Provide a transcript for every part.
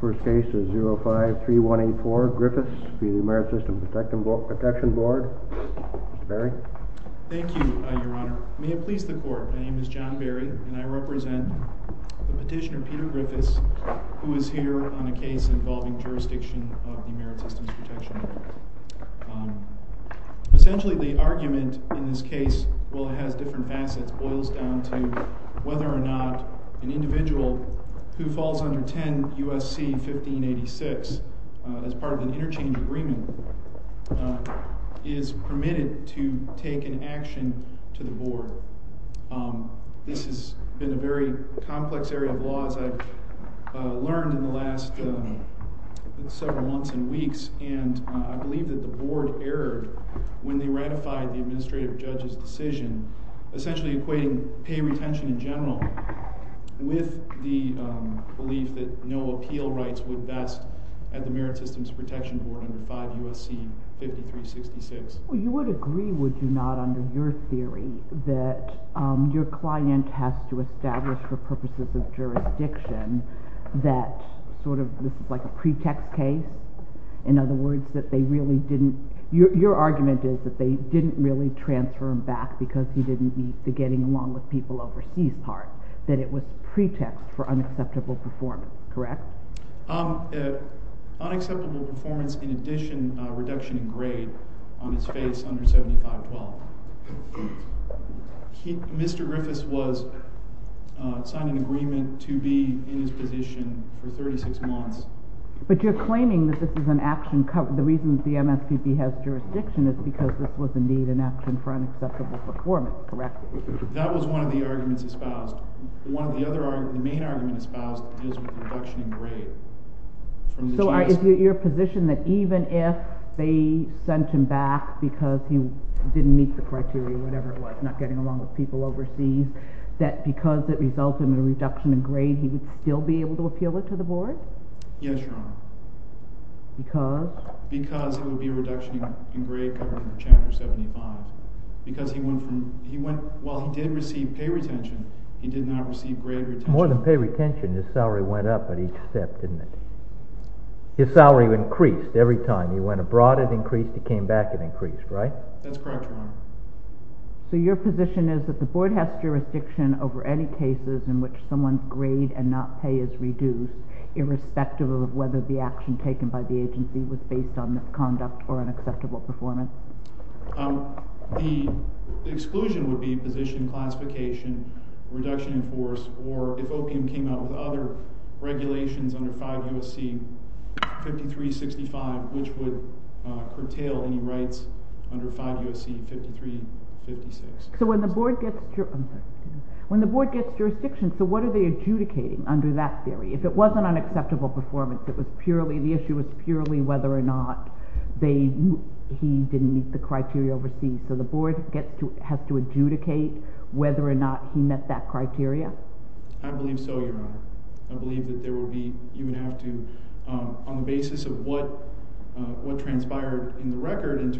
First case is 05-3184 Griffiths v. Merit Systems Protection Board. Mr. Berry. Thank you, Your Honor. May it please the Court, my name is John Berry and I represent the petitioner Peter Griffiths who is here on a case involving jurisdiction of the Merit Systems Protection Board. Essentially the argument in this case, while it has different facets, boils down to whether or not an individual who falls under 10 U.S.C. 1586 as part of an interchange agreement is permitted to take an action to the Board. This has been a very complex area of law as I've learned in the last several months and weeks and I believe that the Board erred when they ratified the Administrative Judge's decision essentially equating pay retention in general with the belief that no appeal rights would best at the Merit Systems Protection Board under 5 U.S.C. 5366. Well, you would agree, would you not, under your theory that your client has to establish for purposes of jurisdiction that sort of this is like a pretext case? In other words, that they really didn't, your argument is that they didn't really transfer him back because he didn't meet the getting along with people overseas part, that it was pretext for unacceptable performance, correct? Unacceptable performance in addition to a reduction in grade on his face under 7512. Mr. Griffiths was, signed an agreement to be in his position for 36 months. But you're claiming that this is an action, the reason the MSPP has jurisdiction is because this was indeed an action for unacceptable performance, correct? That was one of the arguments espoused. One of the other arguments, the main argument espoused is the reduction in grade. So your position that even if they sent him back because he didn't meet the criteria, whatever it was, not getting along with people overseas, that because it resulted in a reduction in grade he would still be able to appeal it to the Board? Yes, Your Honor. Because? Because it would be a reduction in grade covered under Chapter 75. Because he went from, he went, while he did receive pay retention, he did not receive grade retention. More than pay retention, his salary went up at each step, didn't it? His salary increased every time, he went abroad it increased, he came back it increased, right? That's correct, Your Honor. So your position is that the Board has jurisdiction over any cases in which someone's grade and not pay is reduced, irrespective of whether the action taken by the agency was based on misconduct or unacceptable performance? The exclusion would be position classification, reduction in force, or if opium came out with other regulations under 5 U.S.C. 5365, which would curtail any rights under 5 U.S.C. 5356. So when the Board gets jurisdiction, so what are they adjudicating under that theory? If it wasn't unacceptable performance, the issue was purely whether or not he didn't meet the criteria overseas, so the Board has to adjudicate whether or not he met that criteria? I believe so, Your Honor. I believe that you would have to, on the basis of what transpired in the record in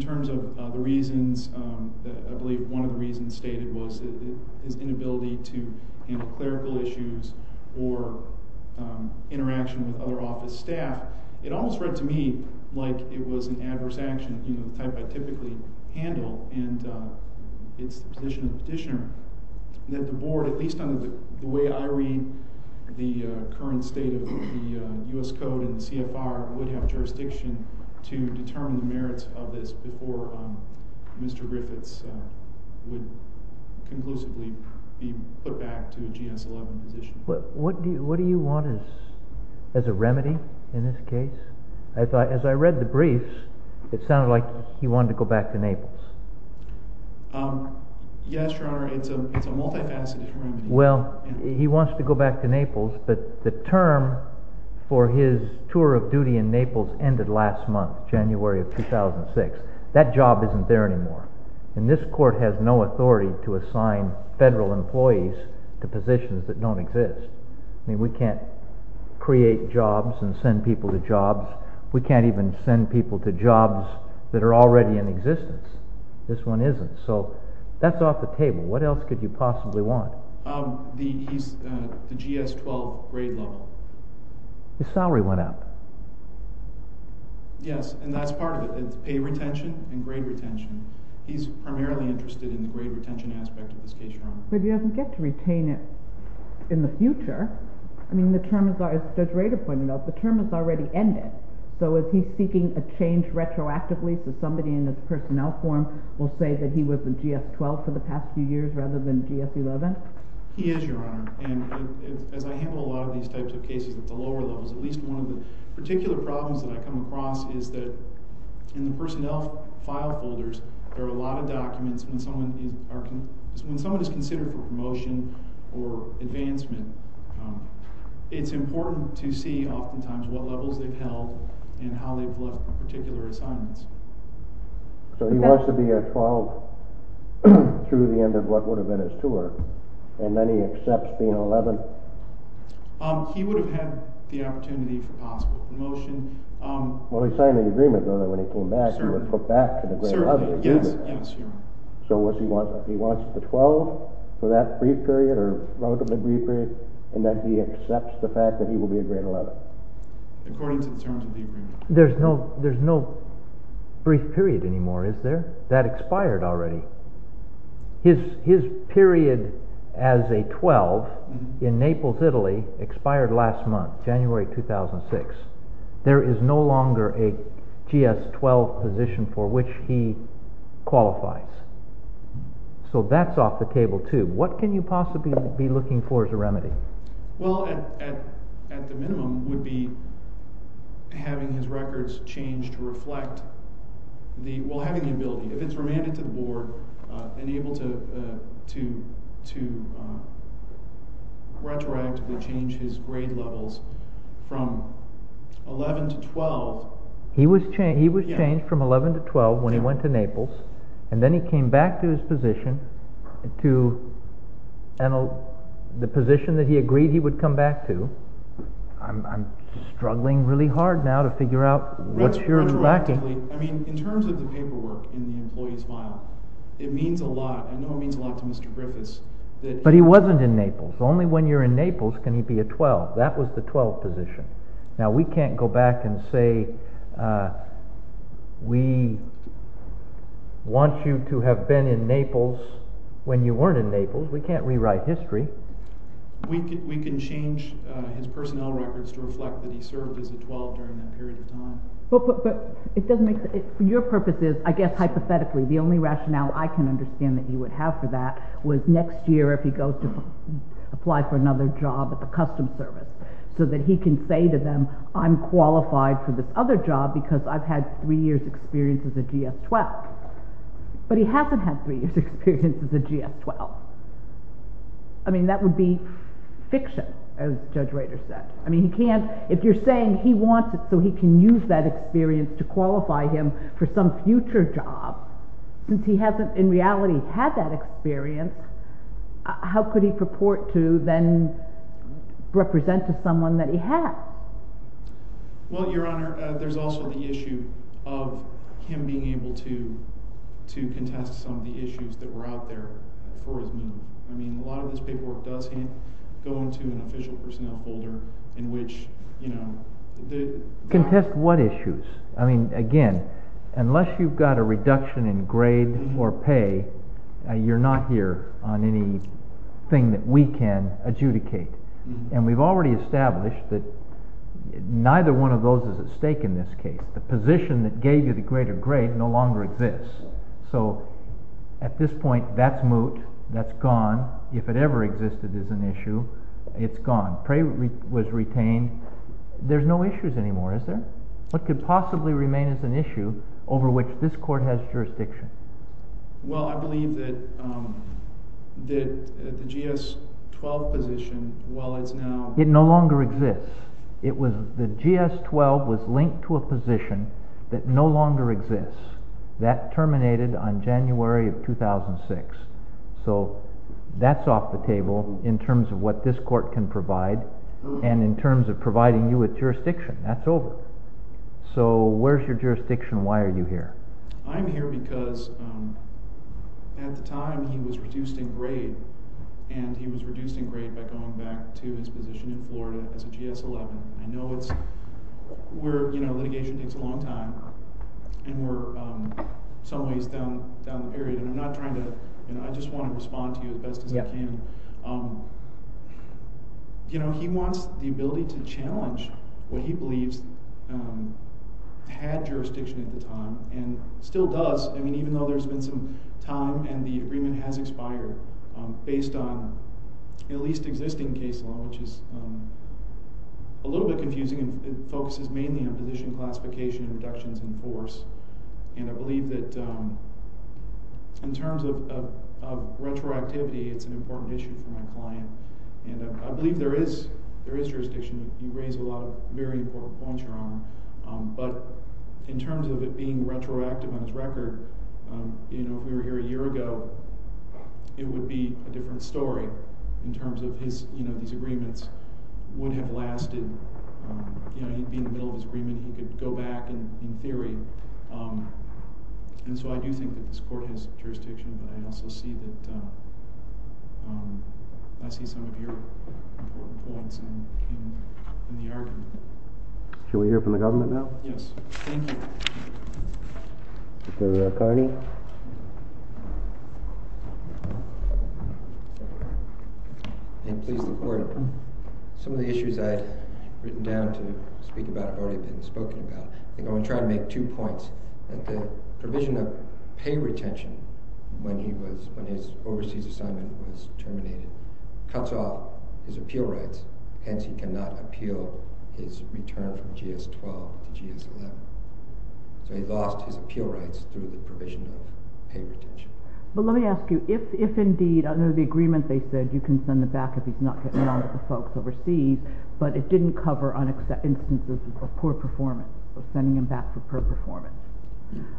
terms of the reasons, I believe one of the reasons stated was his inability to handle clerical issues or interaction with other office staff. It almost read to me like it was an adverse action, you know, the type I typically handle, and it's the position of the petitioner that the Board, at least under the way I read the current state of the U.S. Code and CFR, would have jurisdiction to determine the merits of this before Mr. Griffiths would conclusively be put back to a GS-11 position. What do you want as a remedy in this case? As I read the briefs, it sounded like he wanted to go back to Naples. Yes, Your Honor, it's a multifaceted remedy. Well, he wants to go back to Naples, but the term for his tour of duty in Naples ended last month, January of 2006. That job isn't there anymore, and this Court has no authority to assign federal employees to positions that don't exist. I mean, we can't create jobs and send people to jobs. We can't even send people to jobs that are already in existence. This one isn't, so that's off the table. What else could you possibly want? The GS-12 grade level. His salary went up. Yes, and that's part of it. It's pay retention and grade retention. He's primarily interested in the grade retention aspect of this case, Your Honor. But he doesn't get to retain it in the future. I mean, as Judge Rader pointed out, the term has already ended. So is he seeking a change retroactively so somebody in his personnel form will say that he was a GS-12 for the past few years rather than GS-11? He is, Your Honor. And as I handle a lot of these types of cases at the lower levels, at least one of the particular problems that I come across is that in the personnel file folders, there are a lot of documents when someone is considered for promotion or advancement, it's important to see oftentimes what levels they've held and how they've looked for particular assignments. So he wants to be a 12 through the end of what would have been his tour, and then he accepts being 11? He would have had the opportunity for possible promotion. Well, he signed an agreement, though, that when he came back, he would put back to the grade 11. Yes, Your Honor. So he wants the 12 for that brief period or relatively brief period, and that he accepts the fact that he will be a grade 11? According to the terms of the agreement. There's no brief period anymore, is there? That expired already. His period as a 12 in Naples, Italy expired last month, January 2006. There is no longer a GS-12 position for which he qualifies. So that's off the table, too. What can you possibly be looking for as a remedy? Well, at the minimum would be having his records changed to reflect the—well, having the ability. If it's remanded to the board, then able to retroactively change his grade levels from 11 to 12. He was changed from 11 to 12 when he went to Naples, and then he came back to his position, to the position that he agreed he would come back to. I'm struggling really hard now to figure out what you're lacking. Exactly. I mean, in terms of the paperwork in the employee's file, it means a lot. I know it means a lot to Mr. Griffiths. But he wasn't in Naples. Only when you're in Naples can he be a 12. That was the 12 position. Now, we can't go back and say we want you to have been in Naples when you weren't in Naples. We can't rewrite history. We can change his personnel records to reflect that he served as a 12 during that period of time. But your purpose is, I guess hypothetically, the only rationale I can understand that you would have for that was next year if he goes to apply for another job at the Customs Service, so that he can say to them, I'm qualified for this other job because I've had three years' experience as a GS-12. But he hasn't had three years' experience as a GS-12. I mean, that would be fiction, as Judge Rader said. I mean, if you're saying he wants it so he can use that experience to qualify him for some future job, since he hasn't in reality had that experience, how could he purport to then represent to someone that he has? Well, Your Honor, there's also the issue of him being able to contest some of the issues that were out there for his movement. I mean, a lot of his paperwork does go into an official personnel folder in which, you know, Contest what issues? I mean, again, unless you've got a reduction in grade or pay, you're not here on anything that we can adjudicate. And we've already established that neither one of those is at stake in this case. The position that gave you the greater grade no longer exists. So at this point, that's moot, that's gone. If it ever existed as an issue, it's gone. Prey was retained. There's no issues anymore, is there? What could possibly remain as an issue over which this Court has jurisdiction? Well, I believe that the GS-12 position, while it's now... It no longer exists. The GS-12 was linked to a position that no longer exists. That terminated on January of 2006. So that's off the table in terms of what this Court can provide and in terms of providing you with jurisdiction. That's over. So where's your jurisdiction? Why are you here? I'm here because at the time he was reduced in grade, and he was reduced in grade by going back to his position in Florida as a GS-11. I know litigation takes a long time, and we're some ways down the period, and I'm not trying to... I just want to respond to you as best as I can. He wants the ability to challenge what he believes had jurisdiction at the time, and still does, even though there's been some time and the agreement has expired based on at least existing case law, which is a little bit confusing. It focuses mainly on position classification and reductions in force. And I believe that in terms of retroactivity, it's an important issue for my client. And I believe there is jurisdiction. You raise a lot of very important points, Your Honor. But in terms of it being retroactive on his record, if we were here a year ago, it would be a different story in terms of these agreements would have lasted. He'd be in the middle of his agreement. He could go back in theory. And so I do think that this court has jurisdiction, but I also see that I see some of your important points in the argument. Should we hear from the government now? Yes. Thank you. Mr. Carney? May it please the Court. Some of the issues I had written down to speak about have already been spoken about. I'm going to try to make two points. The provision of pay retention when his overseas assignment was terminated cuts off his appeal rights, hence he cannot appeal his return from GS-12 to GS-11. So he lost his appeal rights through the provision of pay retention. But let me ask you, if indeed under the agreement they said you can send him back if he's not getting along with the folks overseas, but it didn't cover on instances of poor performance, of sending him back for poor performance,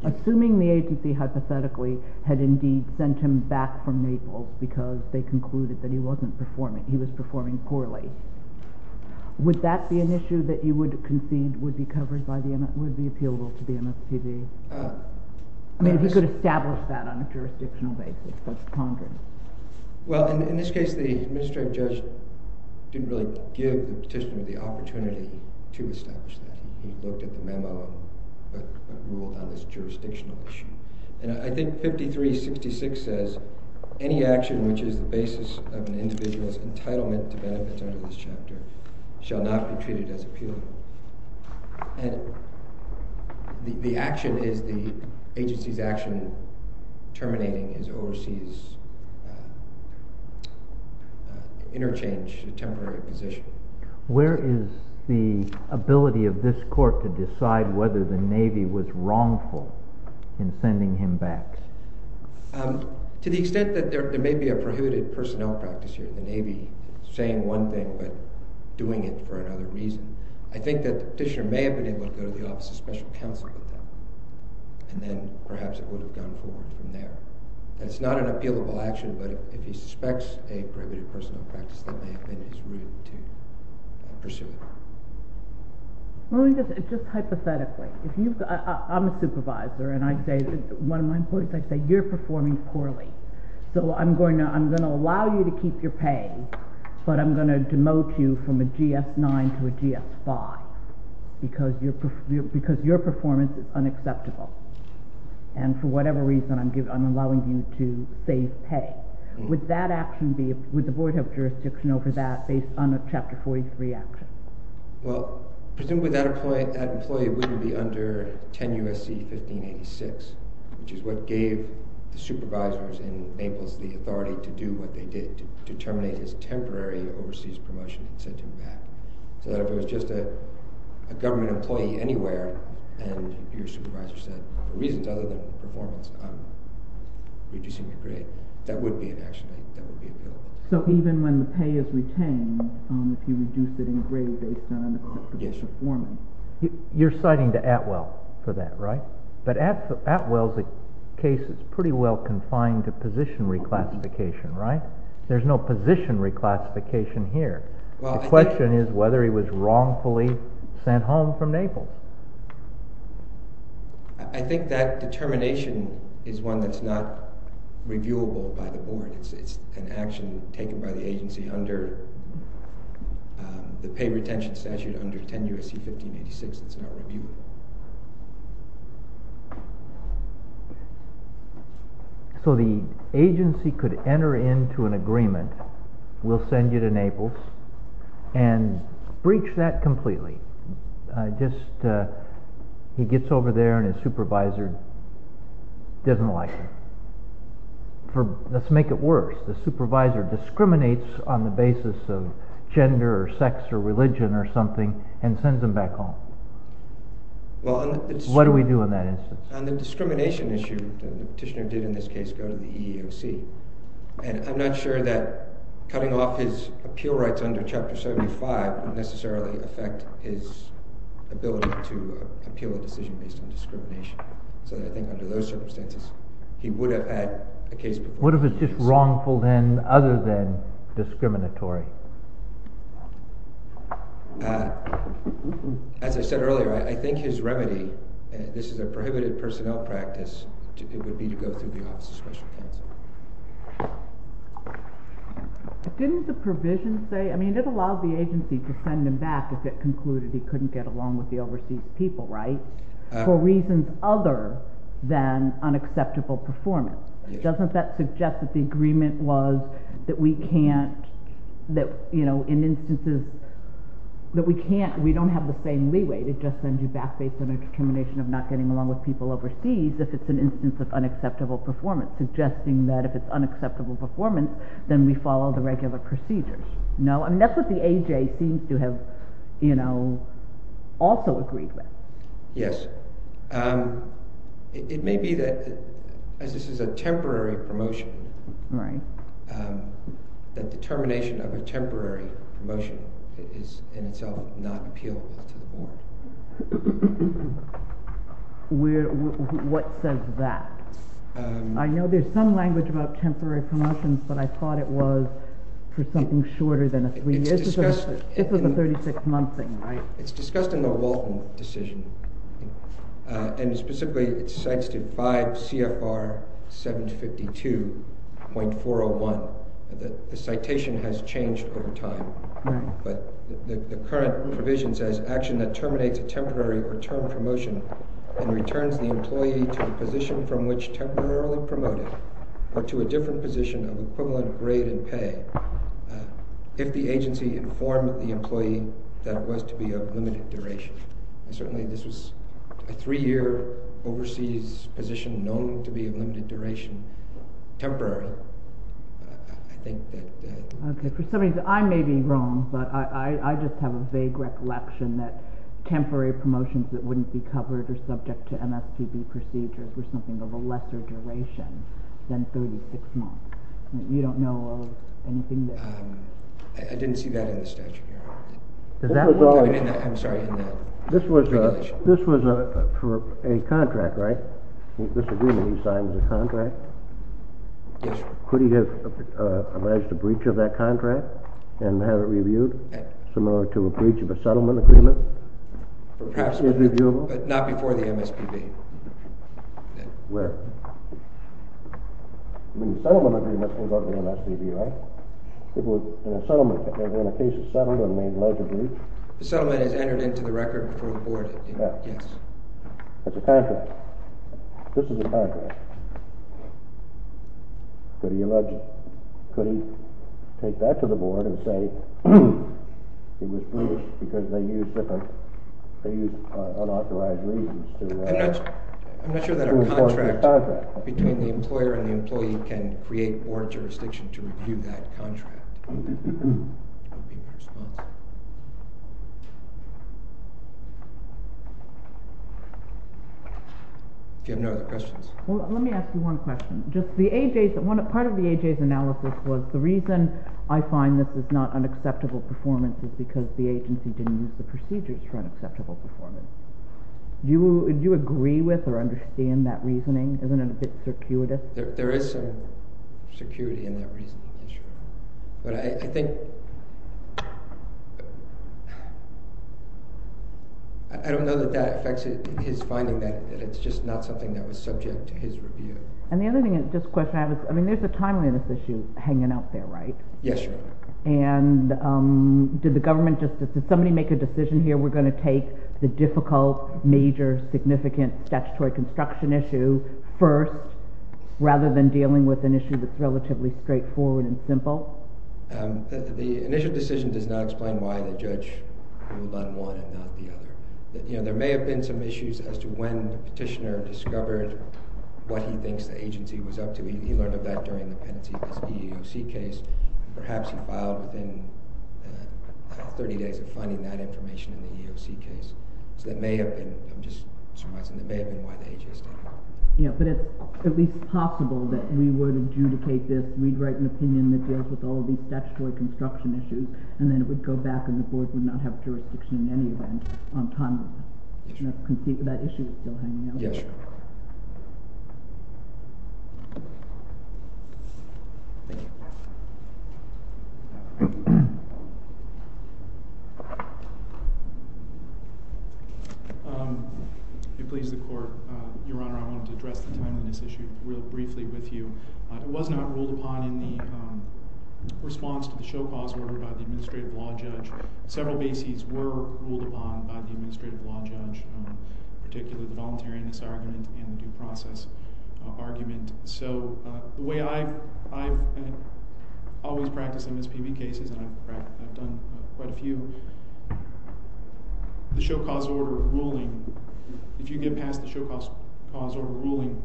assuming the APC hypothetically had indeed sent him back from Naples because they concluded that he was performing poorly, would that be an issue that you would concede would be covered by the MSPB, would be appealable to the MSPB? I mean, if he could establish that on a jurisdictional basis, what's the problem? Well, in this case the administrative judge didn't really give the petitioner the opportunity to establish that. He looked at the memo, but ruled that it was a jurisdictional issue. And I think 5366 says, any action which is the basis of an individual's entitlement to benefits under this chapter shall not be treated as appealable. And the action is the agency's action terminating his overseas interchange, a temporary position. Where is the ability of this court to decide whether the Navy was wrongful in sending him back? To the extent that there may be a prohibited personnel practice here, the Navy saying one thing but doing it for another reason, I think that the petitioner may have been able to go to the office of special counsel and then perhaps it would have gone forward from there. And it's not an appealable action, but if he suspects a prohibited personnel practice, that may have been his route to pursue it. Well, just hypothetically. I'm a supervisor, and one of my employees, I say, you're performing poorly. So I'm going to allow you to keep your pay, but I'm going to demote you from a GS-9 to a GS-5 because your performance is unacceptable. And for whatever reason, I'm allowing you to save pay. Would the board have jurisdiction over that based on a Chapter 43 action? Well, presumably that employee wouldn't be under 10 U.S.C. 1586, which is what gave the supervisors in Naples the authority to do what they did, to terminate his temporary overseas promotion and send him back. So that if it was just a government employee anywhere, and your supervisor said, for reasons other than performance, I'm reducing your grade, that would be an action that would be appealable. So even when the pay is retained, if you reduce it in a grade based on performance. You're citing the Atwell for that, right? But Atwell's case is pretty well confined to position reclassification, right? There's no position reclassification here. The question is whether he was wrongfully sent home from Naples. I think that determination is one that's not reviewable by the board. It's an action taken by the agency under the pay retention statute under 10 U.S.C. 1586. It's not reviewable. So the agency could enter into an agreement, we'll send you to Naples, and breach that completely. He gets over there and his supervisor doesn't like him. Let's make it worse. The supervisor discriminates on the basis of gender or sex or religion or something and sends him back home. What do we do in that instance? On the discrimination issue, the petitioner did in this case go to the EEOC. And I'm not sure that cutting off his appeal rights under Chapter 75 would necessarily affect his ability to appeal a decision based on discrimination. So I think under those circumstances, he would have had a case before. What if it's just wrongful other than discriminatory? As I said earlier, I think his remedy, and this is a prohibited personnel practice, would be to go through the Office of Special Counsel. Didn't the provision say, I mean, it allowed the agency to send him back if it concluded he couldn't get along with the overseas people, right? For reasons other than unacceptable performance. Doesn't that suggest that the agreement was that we can't, in instances, that we don't have the same leeway to just send you back based on a discrimination of not getting along with people overseas if it's an instance of unacceptable performance, suggesting that if it's unacceptable performance, then we follow the regular procedures. That's what the AJ seems to have also agreed with. Yes. It may be that, as this is a temporary promotion, the determination of a temporary promotion is in itself not appealable to the board. What says that? I know there's some language about temporary promotions, but I thought it was for something shorter than a three-year decision. This is a 36-month thing, right? It's discussed in the Walton decision, and specifically it cites to 5 CFR 752.401. The citation has changed over time, but the current provision says, action that terminates a temporary or term promotion and returns the employee to a position from which temporarily promoted or to a different position of equivalent grade and pay, if the agency informed the employee that it was to be of limited duration. Certainly this was a three-year overseas position known to be of limited duration, temporary. For some reason, I may be wrong, but I just have a vague recollection that temporary promotions that wouldn't be covered or subject to MSPB procedures were something of a lesser duration than 36 months. You don't know of anything there? I didn't see that in the statute. I'm sorry, in the regulation. This was for a contract, right? This agreement he signed was a contract? Yes, sir. Could he have alleged a breach of that contract and have it reviewed, similar to a breach of a settlement agreement? Perhaps, but not before the MSPB. Where? I mean, the settlement agreement was on the MSPB, right? It was in a settlement agreement. In a case of settlement, it may have led to a breach. The settlement is entered into the record before the board. Yes. It's a contract. This is a contract. Could he allege it? Could he take that to the board and say it was breached because they used different, they used unauthorized reasons to do that? I'm not sure that a contract between the employer and the employee can create board jurisdiction to review that contract. Do you have any other questions? Let me ask you one question. Part of the AJ's analysis was, the reason I find this is not an acceptable performance is because the agency didn't use the procedures for an acceptable performance. Do you agree with or understand that reasoning? Isn't it a bit circuitous? There is some security in that reasoning, sure. But I think, I don't know that that affects his finding that it's just not something that was subject to his review. And the other thing, this question I have is, I mean, there's a timeliness issue hanging out there, right? Yes, Your Honor. And did the government just, did somebody make a decision here, we're going to take the difficult, major, significant, statutory construction issue first, rather than dealing with an issue that's relatively straightforward and simple? The initial decision does not explain why the judge ruled on one and not the other. There may have been some issues as to when the petitioner discovered what he thinks the agency was up to. He learned of that during the Pentecost EEOC case. Perhaps he filed within 30 days of finding that information in the EEOC case. So that may have been, I'm just summarizing, that may have been why the agency. Yeah, but it's at least possible that we would adjudicate this, we'd write an opinion that deals with all these statutory construction issues, and then it would go back and the board would not have jurisdiction in any event on timeliness. That issue is still hanging out there. Yes, Your Honor. Thank you. If it pleases the Court, Your Honor, I wanted to address the timeliness issue real briefly with you. It was not ruled upon in the response to the show-cause order by the administrative law judge. Several bases were ruled upon by the administrative law judge, particularly the voluntariness argument and the due process argument. So the way I've always practiced MSPB cases, and I've done quite a few, the show-cause order ruling, if you get past the show-cause order ruling,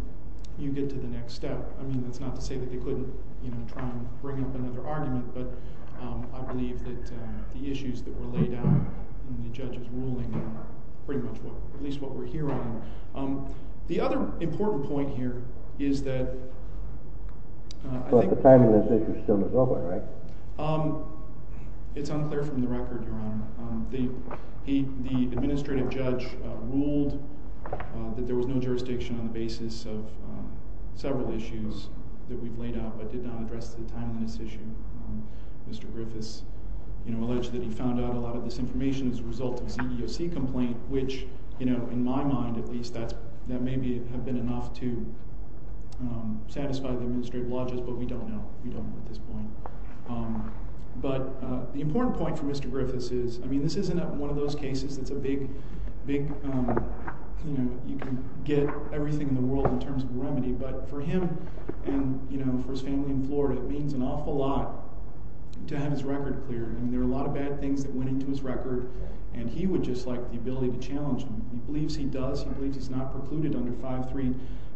you get to the next step. That's not to say that they couldn't try and bring up another argument, at least what we're hearing. The other important point here is that... It's unclear from the record, Your Honor. The administrative judge ruled that there was no jurisdiction on the basis of several issues that we've laid out but did not address the timeliness issue. Mr. Griffiths alleged that he found out a lot of this information as a result of the CEOC complaint, which, in my mind at least, that may have been enough to satisfy the administrative law judge, but we don't know. We don't know at this point. But the important point for Mr. Griffiths is... I mean, this isn't one of those cases that's a big... You can get everything in the world in terms of remedy, but for him and for his family in Florida, it means an awful lot to have his record clear. I mean, there are a lot of bad things that went into his record, and he would just like the ability to challenge them. He believes he does. He believes he's not precluded under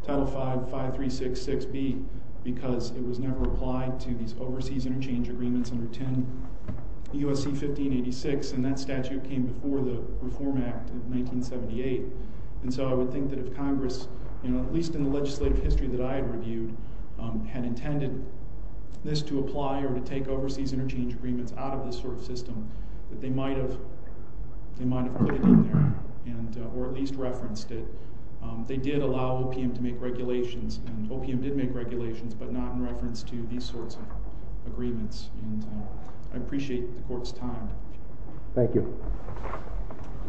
Title 5, 5366B because it was never applied to these overseas interchange agreements under 10 U.S.C. 1586, and that statute came before the Reform Act of 1978. And so I would think that if Congress, at least in the legislative history that I had reviewed, had intended this to apply or to take overseas interchange agreements out of this sort of system, that they might have put it in there or at least referenced it. They did allow OPM to make regulations, and OPM did make regulations, but not in reference to these sorts of agreements. And I appreciate the court's time. Thank you.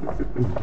This is the stage of the committee.